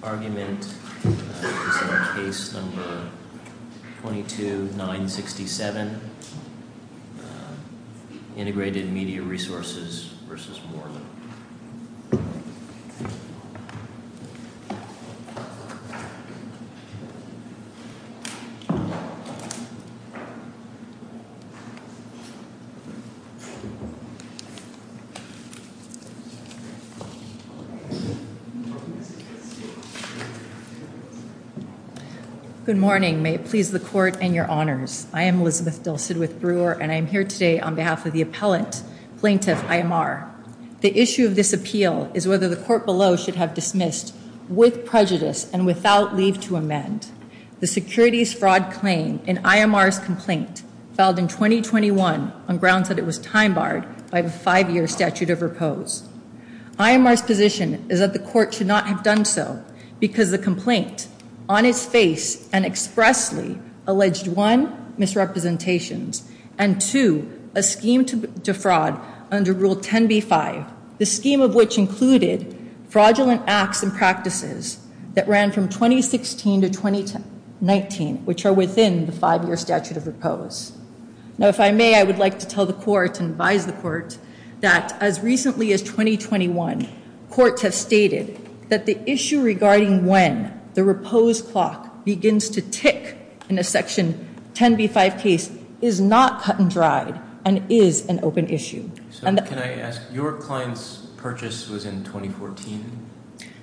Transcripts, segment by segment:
The argument is on Case No. 22-967, Integrated Media Resources v. Morley. Good morning. May it please the court and your honors. I am Elizabeth Dulcid with Brewer, and I am here today on behalf of the appellant, Plaintiff I.M.R. The issue of this appeal is whether the court below should have dismissed with prejudice and without leave to amend the securities fraud claim in I.M.R.'s complaint filed in 2021 on grounds that it was time-barred by the five-year statute of repose. I.M.R.'s position is that the court should not have done so because the complaint, on its face and expressly, alleged one, misrepresentations, and two, a scheme to defraud under Rule 10b-5, the scheme of which included fraudulent acts and practices that ran from 2016 to 2019, which are within the five-year statute of repose. Now, if I may, I would like to tell the court and advise the court that as recently as 2021, courts have stated that the issue regarding when the repose clock begins to tick in a Section 10b-5 case is not cut and dried and is an open issue. Can I ask, your client's purchase was in 2014?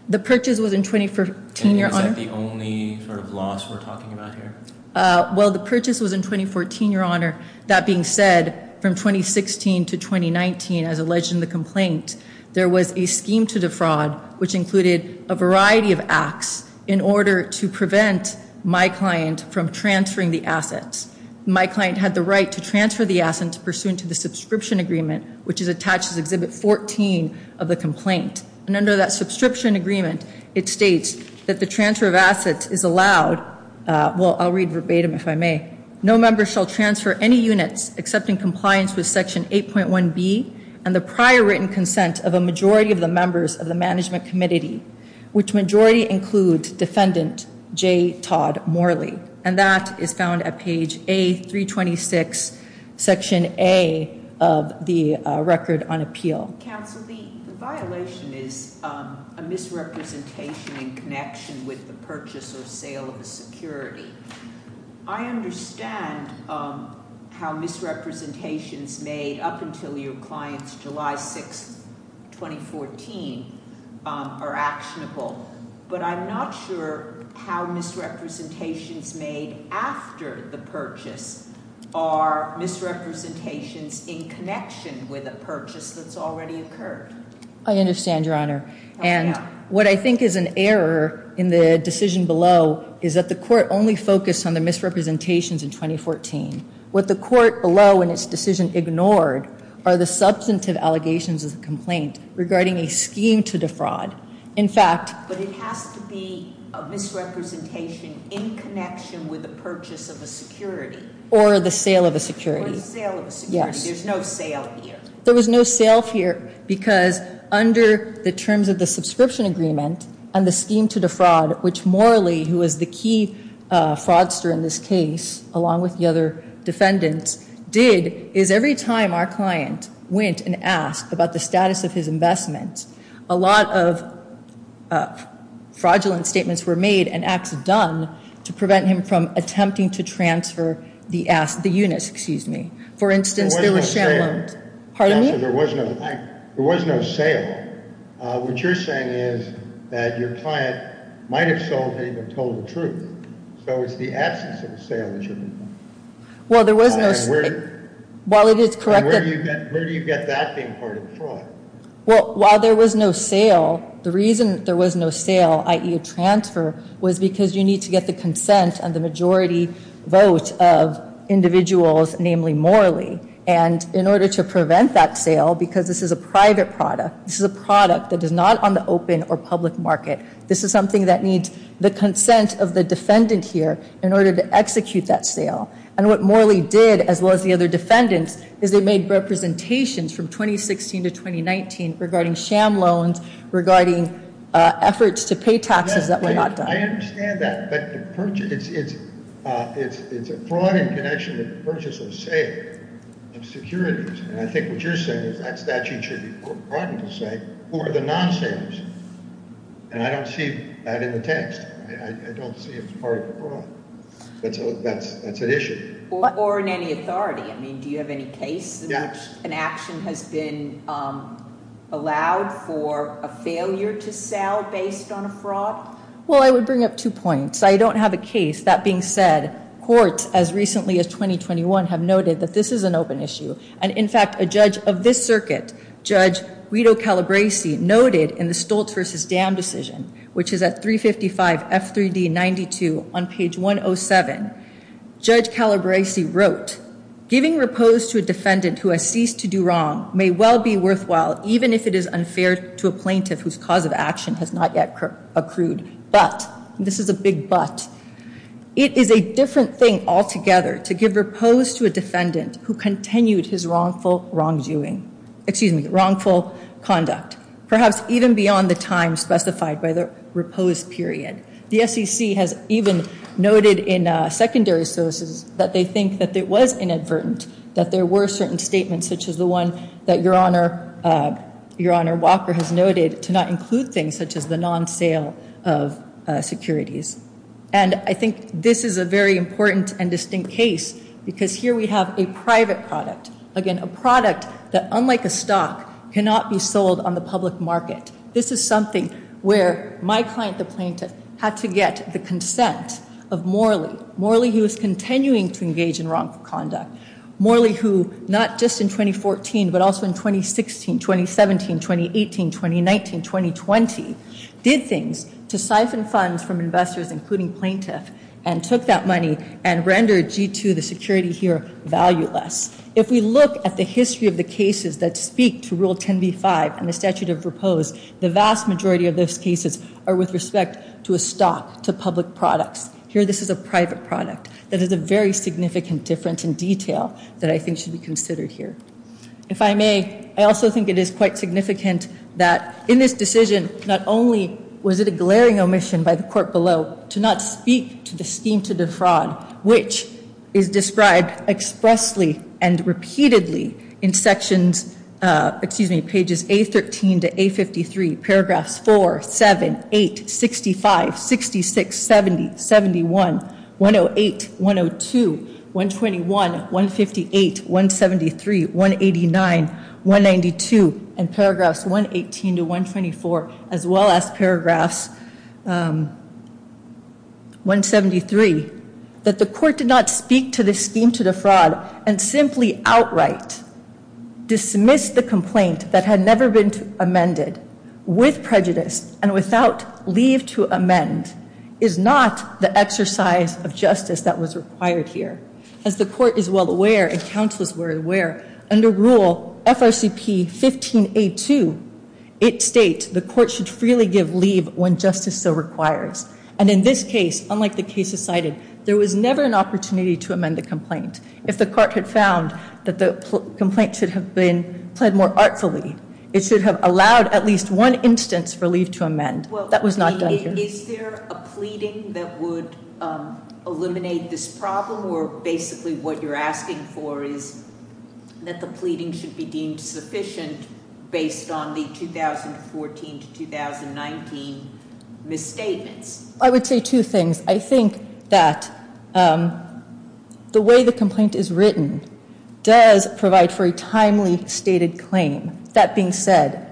The purchase was in 2014, your honor. Is that the only sort of loss we're talking about here? Well, the purchase was in 2014, your honor. That being said, from 2016 to 2019, as alleged in the complaint, there was a scheme to defraud, which included a variety of acts in order to prevent my client from transferring the assets. My client had the right to transfer the assets pursuant to the subscription agreement, which is attached to Exhibit 14 of the complaint. And under that subscription agreement, it states that the transfer of assets is allowed, well, I'll read verbatim if I may. No member shall transfer any units except in compliance with Section 8.1b and the prior written consent of a majority of the members of the Management Committee, which majority includes defendant J. Todd Morley. And that is found at page A-326, Section A of the Record on Appeal. Counsel, the violation is a misrepresentation in connection with the purchase or sale of a security. I understand how misrepresentations made up until your client's July 6, 2014, are actionable. But I'm not sure how misrepresentations made after the purchase are misrepresentations in connection with a purchase that's already occurred. I understand, Your Honor. And what I think is an error in the decision below is that the court only focused on the misrepresentations in 2014. What the court below in its decision ignored are the substantive allegations of the complaint regarding a scheme to defraud. In fact, but it has to be a misrepresentation in connection with the purchase of a security. Or the sale of a security. Or the sale of a security. Yes. There's no sale here. There was no sale here because under the terms of the subscription agreement and the scheme to defraud, which Morley, who was the key fraudster in this case, along with the other defendants, did, is every time our client went and asked about the status of his investment, a lot of fraudulent statements were made and acts done to prevent him from attempting to transfer the units. Excuse me. For instance, there was sham loans. There was no sale. Pardon me? Counselor, there was no sale. What you're saying is that your client might have sold and even told the truth. So it's the absence of a sale that you're talking about. Well, there was no sale. And where do you get that being part of fraud? Well, while there was no sale, the reason there was no sale, i.e. a transfer, was because you need to get the consent and the majority vote of individuals, namely Morley. And in order to prevent that sale, because this is a private product, this is a product that is not on the open or public market, this is something that needs the consent of the defendant here in order to execute that sale. And what Morley did, as well as the other defendants, is they made representations from 2016 to 2019 regarding sham loans, regarding efforts to pay taxes that were not done. I understand that. But it's a fraud in connection with the purchase of a sale of securities. And I think what you're saying is that statute should be brought into sight for the non-salers. And I don't see that in the text. I don't see it as part of the fraud. That's an issue. Or in any authority. I mean, do you have any case in which an action has been allowed for a failure to sell based on a fraud? Well, I would bring up two points. I don't have a case. That being said, courts, as recently as 2021, have noted that this is an open issue. And, in fact, a judge of this circuit, Judge Guido Calabresi, noted in the Stoltz v. Dam decision, which is at 355 F3D 92 on page 107, Judge Calabresi wrote, giving repose to a defendant who has ceased to do wrong may well be worthwhile, even if it is unfair to a plaintiff whose cause of action has not yet accrued. But, and this is a big but, it is a different thing altogether to give repose to a defendant who continued his wrongful wrongdoing, excuse me, wrongful conduct, perhaps even beyond the time specified by the repose period. The SEC has even noted in secondary sources that they think that it was inadvertent that there were certain statements, such as the one that Your Honor Walker has noted, to not include things such as the non-sale of securities. And I think this is a very important and distinct case because here we have a private product. Again, a product that, unlike a stock, cannot be sold on the public market. This is something where my client, the plaintiff, had to get the consent of Morley. Morley, who is continuing to engage in wrongful conduct. Morley, who not just in 2014, but also in 2016, 2017, 2018, 2019, 2020, did things to siphon funds from investors, including plaintiff, and took that money and rendered G2, the security here, valueless. If we look at the history of the cases that speak to Rule 10b-5 and the statute of repose, the vast majority of those cases are with respect to a stock, to public products. Here this is a private product. That is a very significant difference in detail that I think should be considered here. If I may, I also think it is quite significant that in this decision, not only was it a glaring omission by the court below to not speak to the scheme to defraud, which is described expressly and repeatedly in sections, excuse me, pages 813 to 853, paragraphs 4, 7, 8, 65, 66, 70, 71, 108, 102, 121, 158, 173, 189, 192, and paragraphs 118 to 124, as well as paragraphs 173. That the court did not speak to the scheme to defraud and simply outright dismissed the complaint that had never been amended with prejudice and without leave to amend is not the exercise of justice that was required here. As the court is well aware, and counselors were aware, under Rule FRCP-15A2, it states the court should freely give leave when justice so requires. And in this case, unlike the cases cited, there was never an opportunity to amend the complaint. If the court had found that the complaint should have been pled more artfully, it should have allowed at least one instance for leave to amend. That was not done here. Is there a pleading that would eliminate this problem, or basically what you're asking for is that the pleading should be deemed sufficient based on the 2014 to 2019 misstatements? I would say two things. I think that the way the complaint is written does provide for a timely stated claim. That being said,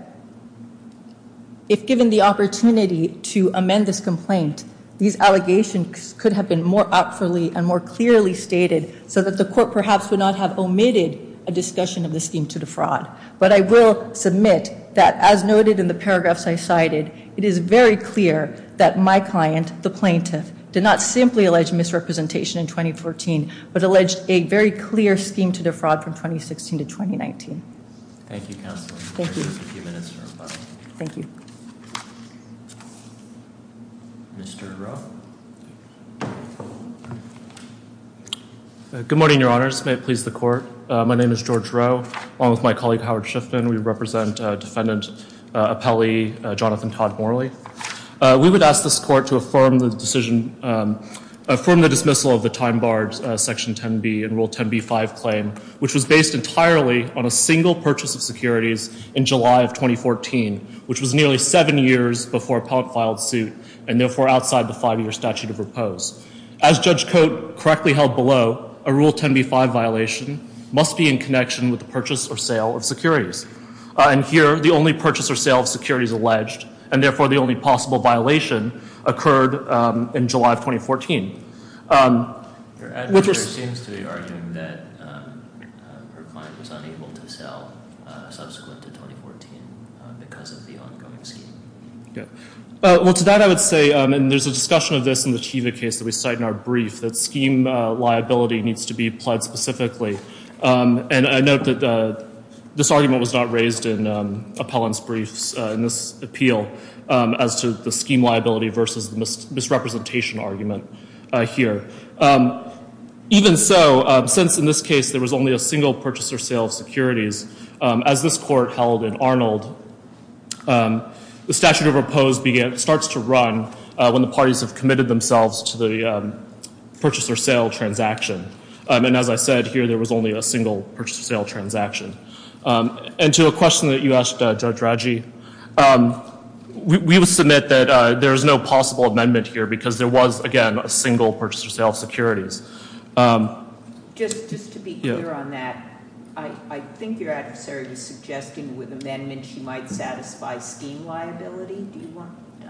if given the opportunity to amend this complaint, these allegations could have been more artfully and more clearly stated so that the court perhaps would not have omitted a discussion of the scheme to defraud. But I will submit that, as noted in the paragraphs I cited, it is very clear that my client, the plaintiff, did not simply allege misrepresentation in 2014, but alleged a very clear scheme to defraud from 2016 to 2019. Thank you, Counselor. Thank you. Mr. Rowe. Good morning, Your Honors. May it please the court. My name is George Rowe, along with my colleague Howard Shiffman. We represent Defendant Appellee Jonathan Todd Morley. We would ask this court to affirm the dismissal of the time-barred Section 10b and Rule 10b-5 claim, which was based entirely on a single purchase of securities in July of 2014, which was nearly seven years before Appellant filed suit and therefore outside the five-year statute of repose. As Judge Cote correctly held below, a Rule 10b-5 violation must be in connection with the purchase or sale of securities. And here, the only purchase or sale of securities alleged and therefore the only possible violation occurred in July of 2014. Your adjudicator seems to be arguing that her client was unable to sell subsequent to 2014 because of the ongoing scheme. Well, to that I would say, and there's a discussion of this in the Teva case that we cite in our brief, that scheme liability needs to be applied specifically. And I note that this argument was not raised in Appellant's briefs in this appeal as to the scheme liability versus misrepresentation argument here. Even so, since in this case there was only a single purchase or sale of securities, as this court held in Arnold, the statute of repose starts to run when the parties have committed themselves to the purchase or sale transaction. And as I said, here there was only a single purchase or sale transaction. And to a question that you asked, Judge Raggi, we will submit that there is no possible amendment here because there was, again, a single purchase or sale of securities. Just to be clear on that, I think your adversary was suggesting with amendment she might satisfy scheme liability.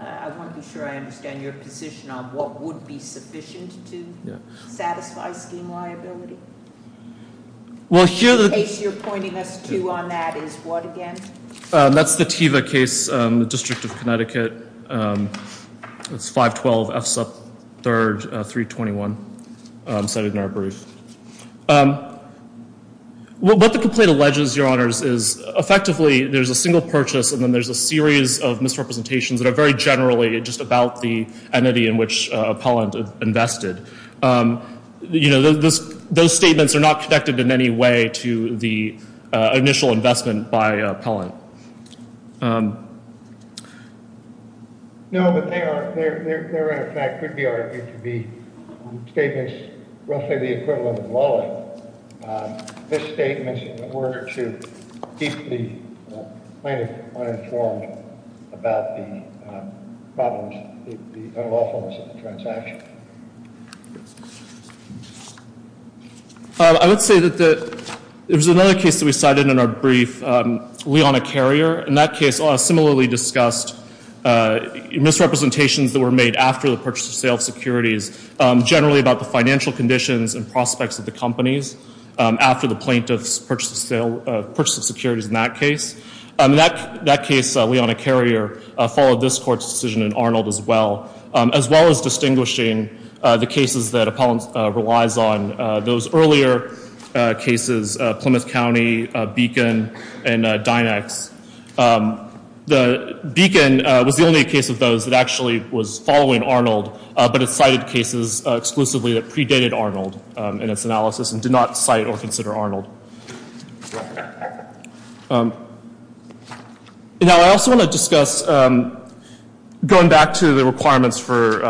I want to be sure I understand your position on what would be sufficient to satisfy scheme liability. The case you're pointing us to on that is what again? That's the Teva case, the District of Connecticut. It's 512 F. Sup. 3, 321 cited in our brief. What the complaint alleges, Your Honors, is effectively there's a single purchase and then there's a series of misrepresentations that are very generally just about the entity in which Appellant invested. You know, those statements are not connected in any way to the initial investment by Appellant. No, but they are in effect could be argued to be statements roughly the equivalent of wallet. This statement is in order to keep the plaintiff uninformed about the problems, the unlawfulness of the transaction. I would say that there's another case that we cited in our brief, Leona Carrier. In that case, similarly discussed misrepresentations that were made after the purchase of sales securities, generally about the financial conditions and prospects of the companies after the plaintiff's purchase of securities in that case. That case, Leona Carrier, followed this Court's decision in Arnold as well, as well as distinguishing the cases that Appellant relies on. Those earlier cases, Plymouth County, Beacon, and Dynex. The Beacon was the only case of those that actually was following Arnold, but it cited cases exclusively that predated Arnold in its analysis and did not cite or consider Arnold. Now, I also want to discuss going back to the requirements for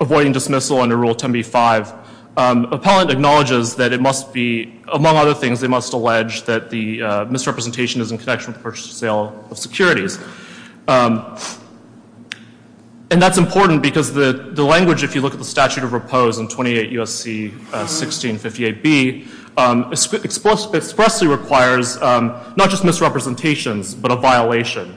avoiding dismissal under Rule 10b-5. Appellant acknowledges that it must be, among other things, they must allege that the misrepresentation is in connection with the purchase or sale of securities. And that's important because the language, if you look at the statute of repose in 28 U.S.C. 1658b, expressly requires not just misrepresentations, but a violation.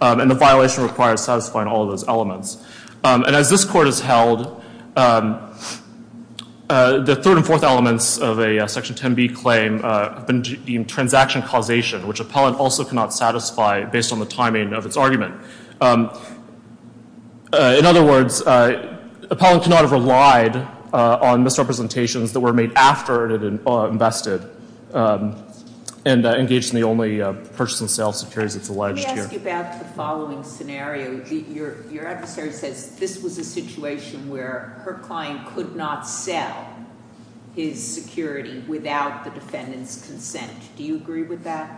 And the violation requires satisfying all of those elements. And as this Court has held, the third and fourth elements of a Section 10b claim have been deemed transaction causation, which Appellant also cannot satisfy based on the timing of its argument. In other words, Appellant cannot have relied on misrepresentations that were made after it had invested and engaged in the only purchase and sale of securities that's alleged here. Let me ask you about the following scenario. Your adversary says this was a situation where her client could not sell his security without the defendant's consent. Do you agree with that?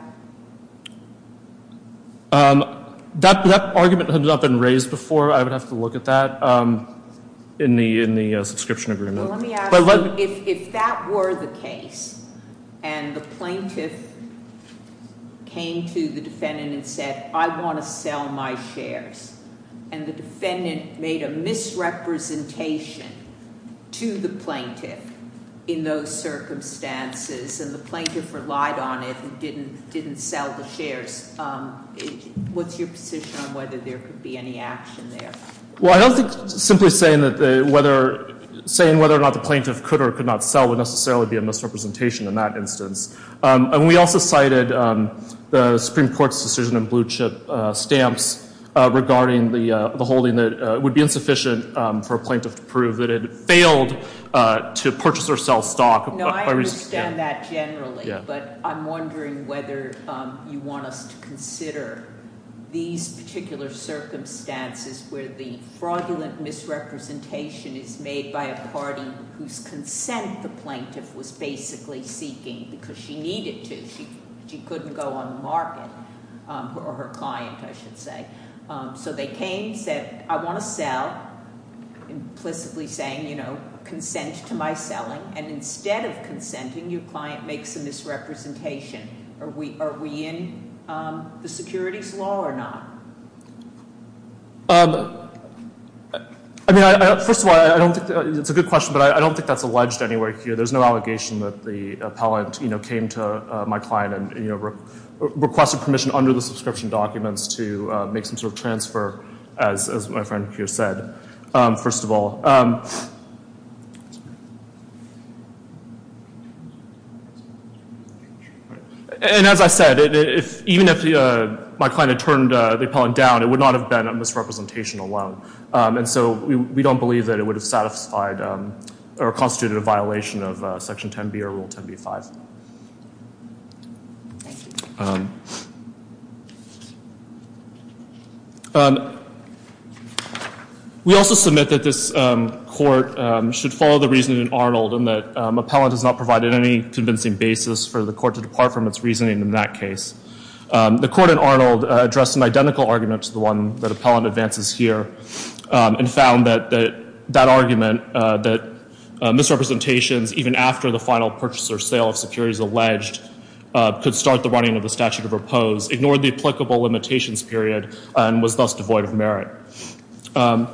That argument has not been raised before. I would have to look at that in the subscription agreement. If that were the case, and the plaintiff came to the defendant and said, I want to sell my shares, and the defendant made a misrepresentation to the plaintiff in those circumstances, and the plaintiff relied on it and didn't sell the shares, what's your position on whether there could be any action there? Well, I don't think simply saying whether or not the plaintiff could or could not sell would necessarily be a misrepresentation in that instance. And we also cited the Supreme Court's decision in Blue Chip Stamps regarding the holding that it would be insufficient for a plaintiff to prove that it failed to purchase or sell stock. No, I understand that generally, but I'm wondering whether you want us to consider these particular circumstances where the fraudulent misrepresentation is made by a party whose consent the plaintiff was basically seeking because she needed to. She couldn't go on the market, or her client, I should say. So they came, said, I want to sell, implicitly saying, you know, consent to my selling, and instead of consenting, your client makes a misrepresentation. Are we in the securities law or not? I mean, first of all, it's a good question, but I don't think that's alleged anywhere here. There's no allegation that the appellant, you know, came to my client and requested permission under the subscription documents to make some sort of transfer, as my friend here said, first of all. And as I said, even if my client had turned the appellant down, it would not have been a misrepresentation alone. And so we don't believe that it would have satisfied or constituted a violation of Section 10B or Rule 10b-5. We also submit that this court should follow the reasoning in Arnold and that appellant has not provided any convincing basis for the court to depart from its reasoning in that case. The court in Arnold addressed an identical argument to the one that appellant advances here and found that that argument, that misrepresentations even after the final purchase or sale of securities alleged, could start the running of the statute of repose, ignored the applicable limitations period, and was thus devoid of merit. And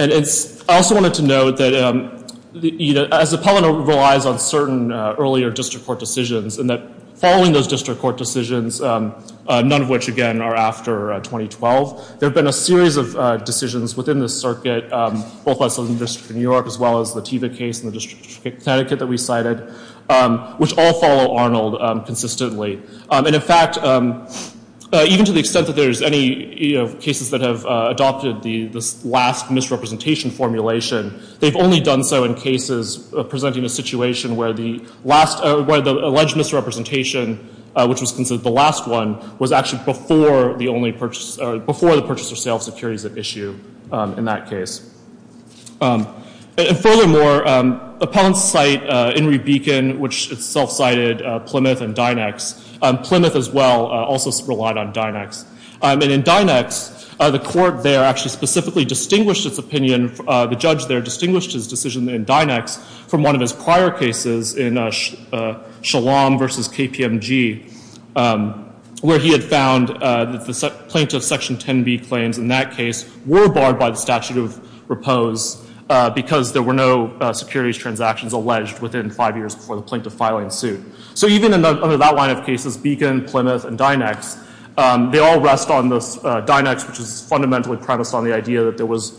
I also wanted to note that, you know, as appellant relies on certain earlier district court decisions and that following those district court decisions, none of which, again, are after 2012, there have been a series of decisions within the circuit, both by the Southern District of New York, as well as the Teva case in the District of Connecticut that we cited, which all follow Arnold consistently. And in fact, even to the extent that there's any cases that have adopted this last misrepresentation formulation, they've only done so in cases presenting a situation where the alleged misrepresentation, which was considered the last one, was actually before the purchase or sale of securities at issue in that case. And furthermore, appellants cite Henry Beacon, which self-cited Plymouth and Dynex. Plymouth as well also relied on Dynex. And in Dynex, the court there actually specifically distinguished its opinion, the judge there distinguished his decision in Dynex from one of his prior cases in Shalom v. KPMG, where he had found that the plaintiff's Section 10b claims in that case were barred by the statute of repose because there were no securities transactions alleged within five years before the plaintiff filing suit. So even under that line of cases, Beacon, Plymouth, and Dynex, they all rest on this Dynex, which is fundamentally premised on the idea that there was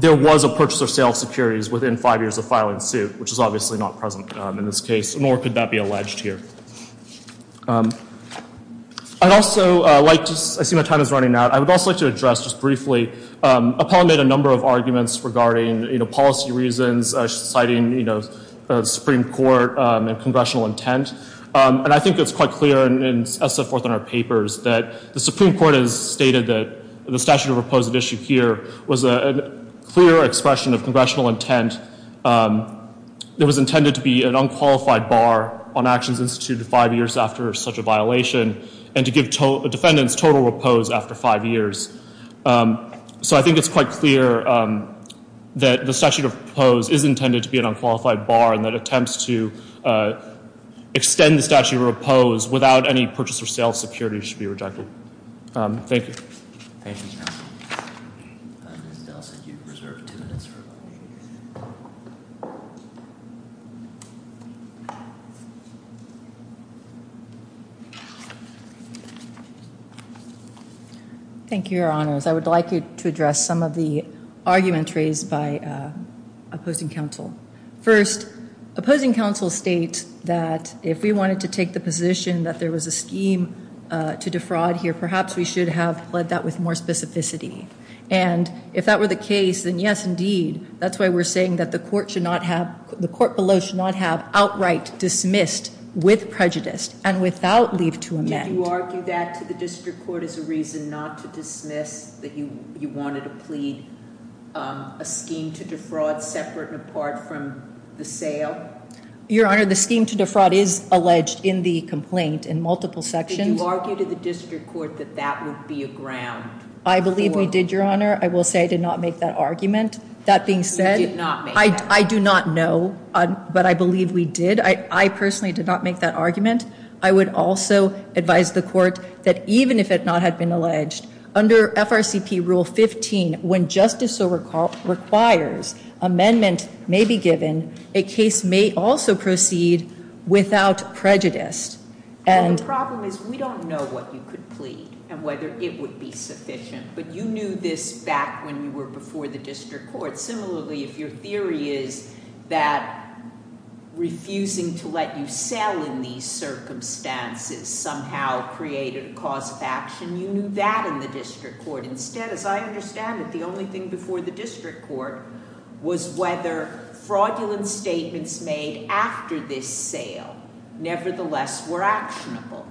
a purchase or sale of securities within five years of filing suit, which is obviously not present in this case, nor could that be alleged here. I'd also like to, I see my time is running out. I would also like to address just briefly, appellant made a number of arguments regarding policy reasons, citing Supreme Court and congressional intent. And I think it's quite clear, as set forth in our papers, that the Supreme Court has stated that the statute of repose at issue here was a clear expression of congressional intent that was intended to be an unqualified bar on actions instituted five years after such a violation and to give defendants total repose after five years. So I think it's quite clear that the statute of repose is intended to be an unqualified bar and that attempts to extend the statute of repose without any purchase or sale of securities should be rejected. Thank you. Thank you, counsel. Ms. Dell said you reserved two minutes for questions. Thank you, Your Honors. I would like to address some of the argument raised by opposing counsel. First, opposing counsel states that if we wanted to take the position that there was a scheme to defraud here, perhaps we should have led that with more specificity. And if that were the case, then yes, indeed. That's why we're saying that the court below should not have outright dismissed with prejudice and without leave to amend. Did you argue that to the district court as a reason not to dismiss that you wanted to plead a scheme to defraud separate and apart from the sale? Your Honor, the scheme to defraud is alleged in the complaint in multiple sections. Did you argue to the district court that that would be a ground for them? I believe we did, Your Honor. I will say I did not make that argument. That being said, I do not know, but I believe we did. I personally did not make that argument. I would also advise the court that even if it not had been alleged, under FRCP Rule 15, when justice so requires, amendment may be given, a case may also proceed without prejudice. The problem is we don't know what you could plead and whether it would be sufficient. But you knew this back when you were before the district court. Similarly, if your theory is that refusing to let you sell in these circumstances somehow created a cause of action, you knew that in the district court. Nevertheless, were actionable.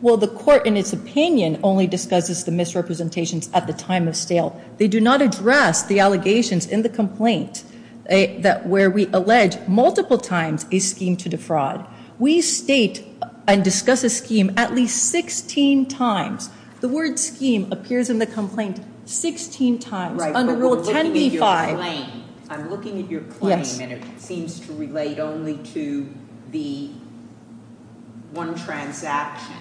Well, the court, in its opinion, only discusses the misrepresentations at the time of sale. They do not address the allegations in the complaint where we allege multiple times a scheme to defraud. We state and discuss a scheme at least 16 times. The word scheme appears in the complaint 16 times under Rule 10b-5. I'm looking at your claim and it seems to relate only to the one transaction.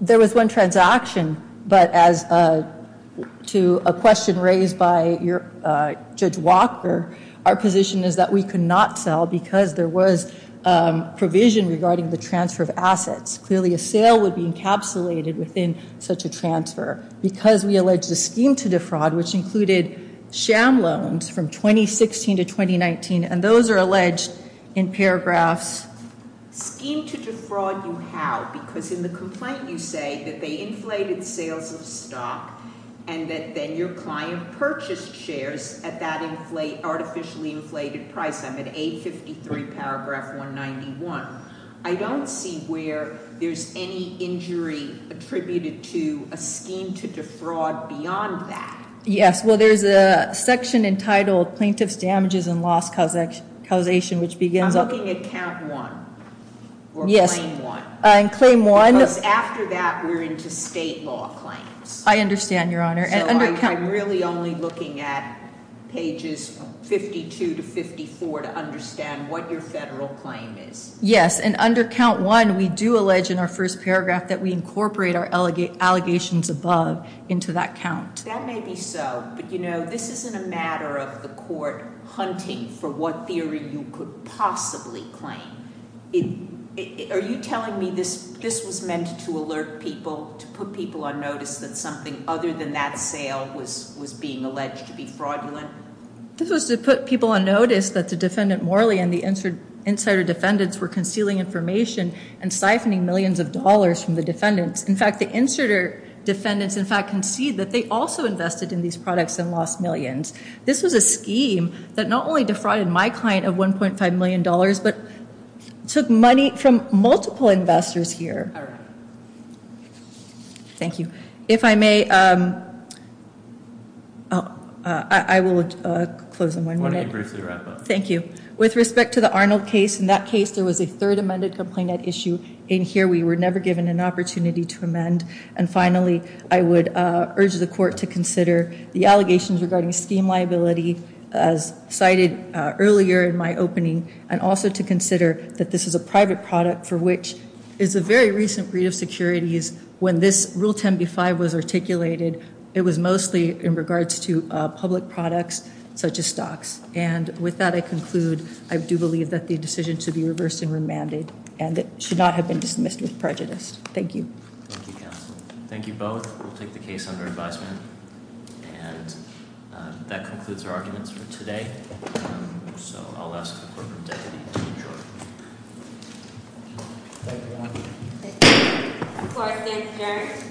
There was one transaction, but as to a question raised by Judge Walker, our position is that we could not sell because there was provision regarding the transfer of assets. Clearly, a sale would be encapsulated within such a transfer. Because we alleged a scheme to defraud, which included sham loans from 2016 to 2019. And those are alleged in paragraphs. Scheme to defraud you how? Because in the complaint you say that they inflated sales of stock and that then your client purchased shares at that artificially inflated price. I'm at 853 paragraph 191. I don't see where there's any injury attributed to a scheme to defraud beyond that. Yes, well, there's a section entitled plaintiff's damages and loss causation, which begins... I'm looking at count one. Yes. Or claim one. In claim one. Because after that, we're into state law claims. I understand, Your Honor. I'm really only looking at pages 52 to 54 to understand what your federal claim is. Yes, and under count one, we do allege in our first paragraph that we incorporate our allegations above into that count. That may be so. But, you know, this isn't a matter of the court hunting for what theory you could possibly claim. Are you telling me this was meant to alert people, to put people on notice that something other than that sale was being alleged to be fraudulent? This was to put people on notice that the defendant Morley and the insider defendants were concealing information and siphoning millions of dollars from the defendants. In fact, the insider defendants, in fact, concede that they also invested in these products and lost millions. This was a scheme that not only defrauded my client of $1.5 million, but took money from multiple investors here. All right. Thank you. If I may, I will close in one minute. Thank you. With respect to the Arnold case, in that case, there was a third amended complaint at issue. In here, we were never given an opportunity to amend. And finally, I would urge the court to consider the allegations regarding scheme liability as cited earlier in my opening. And also to consider that this is a private product for which is a very recent read of securities. When this rule 10B5 was articulated, it was mostly in regards to public products such as stocks. And with that, I conclude. I do believe that the decision should be reversed and remanded, and it should not have been dismissed with prejudice. Thank you. Thank you, counsel. Thank you both. We'll take the case under advisement. And that concludes our arguments for today. So I'll ask the clerk to take it to the jury. Thank you, counsel. Thank you. Court is adjourned. Thank you.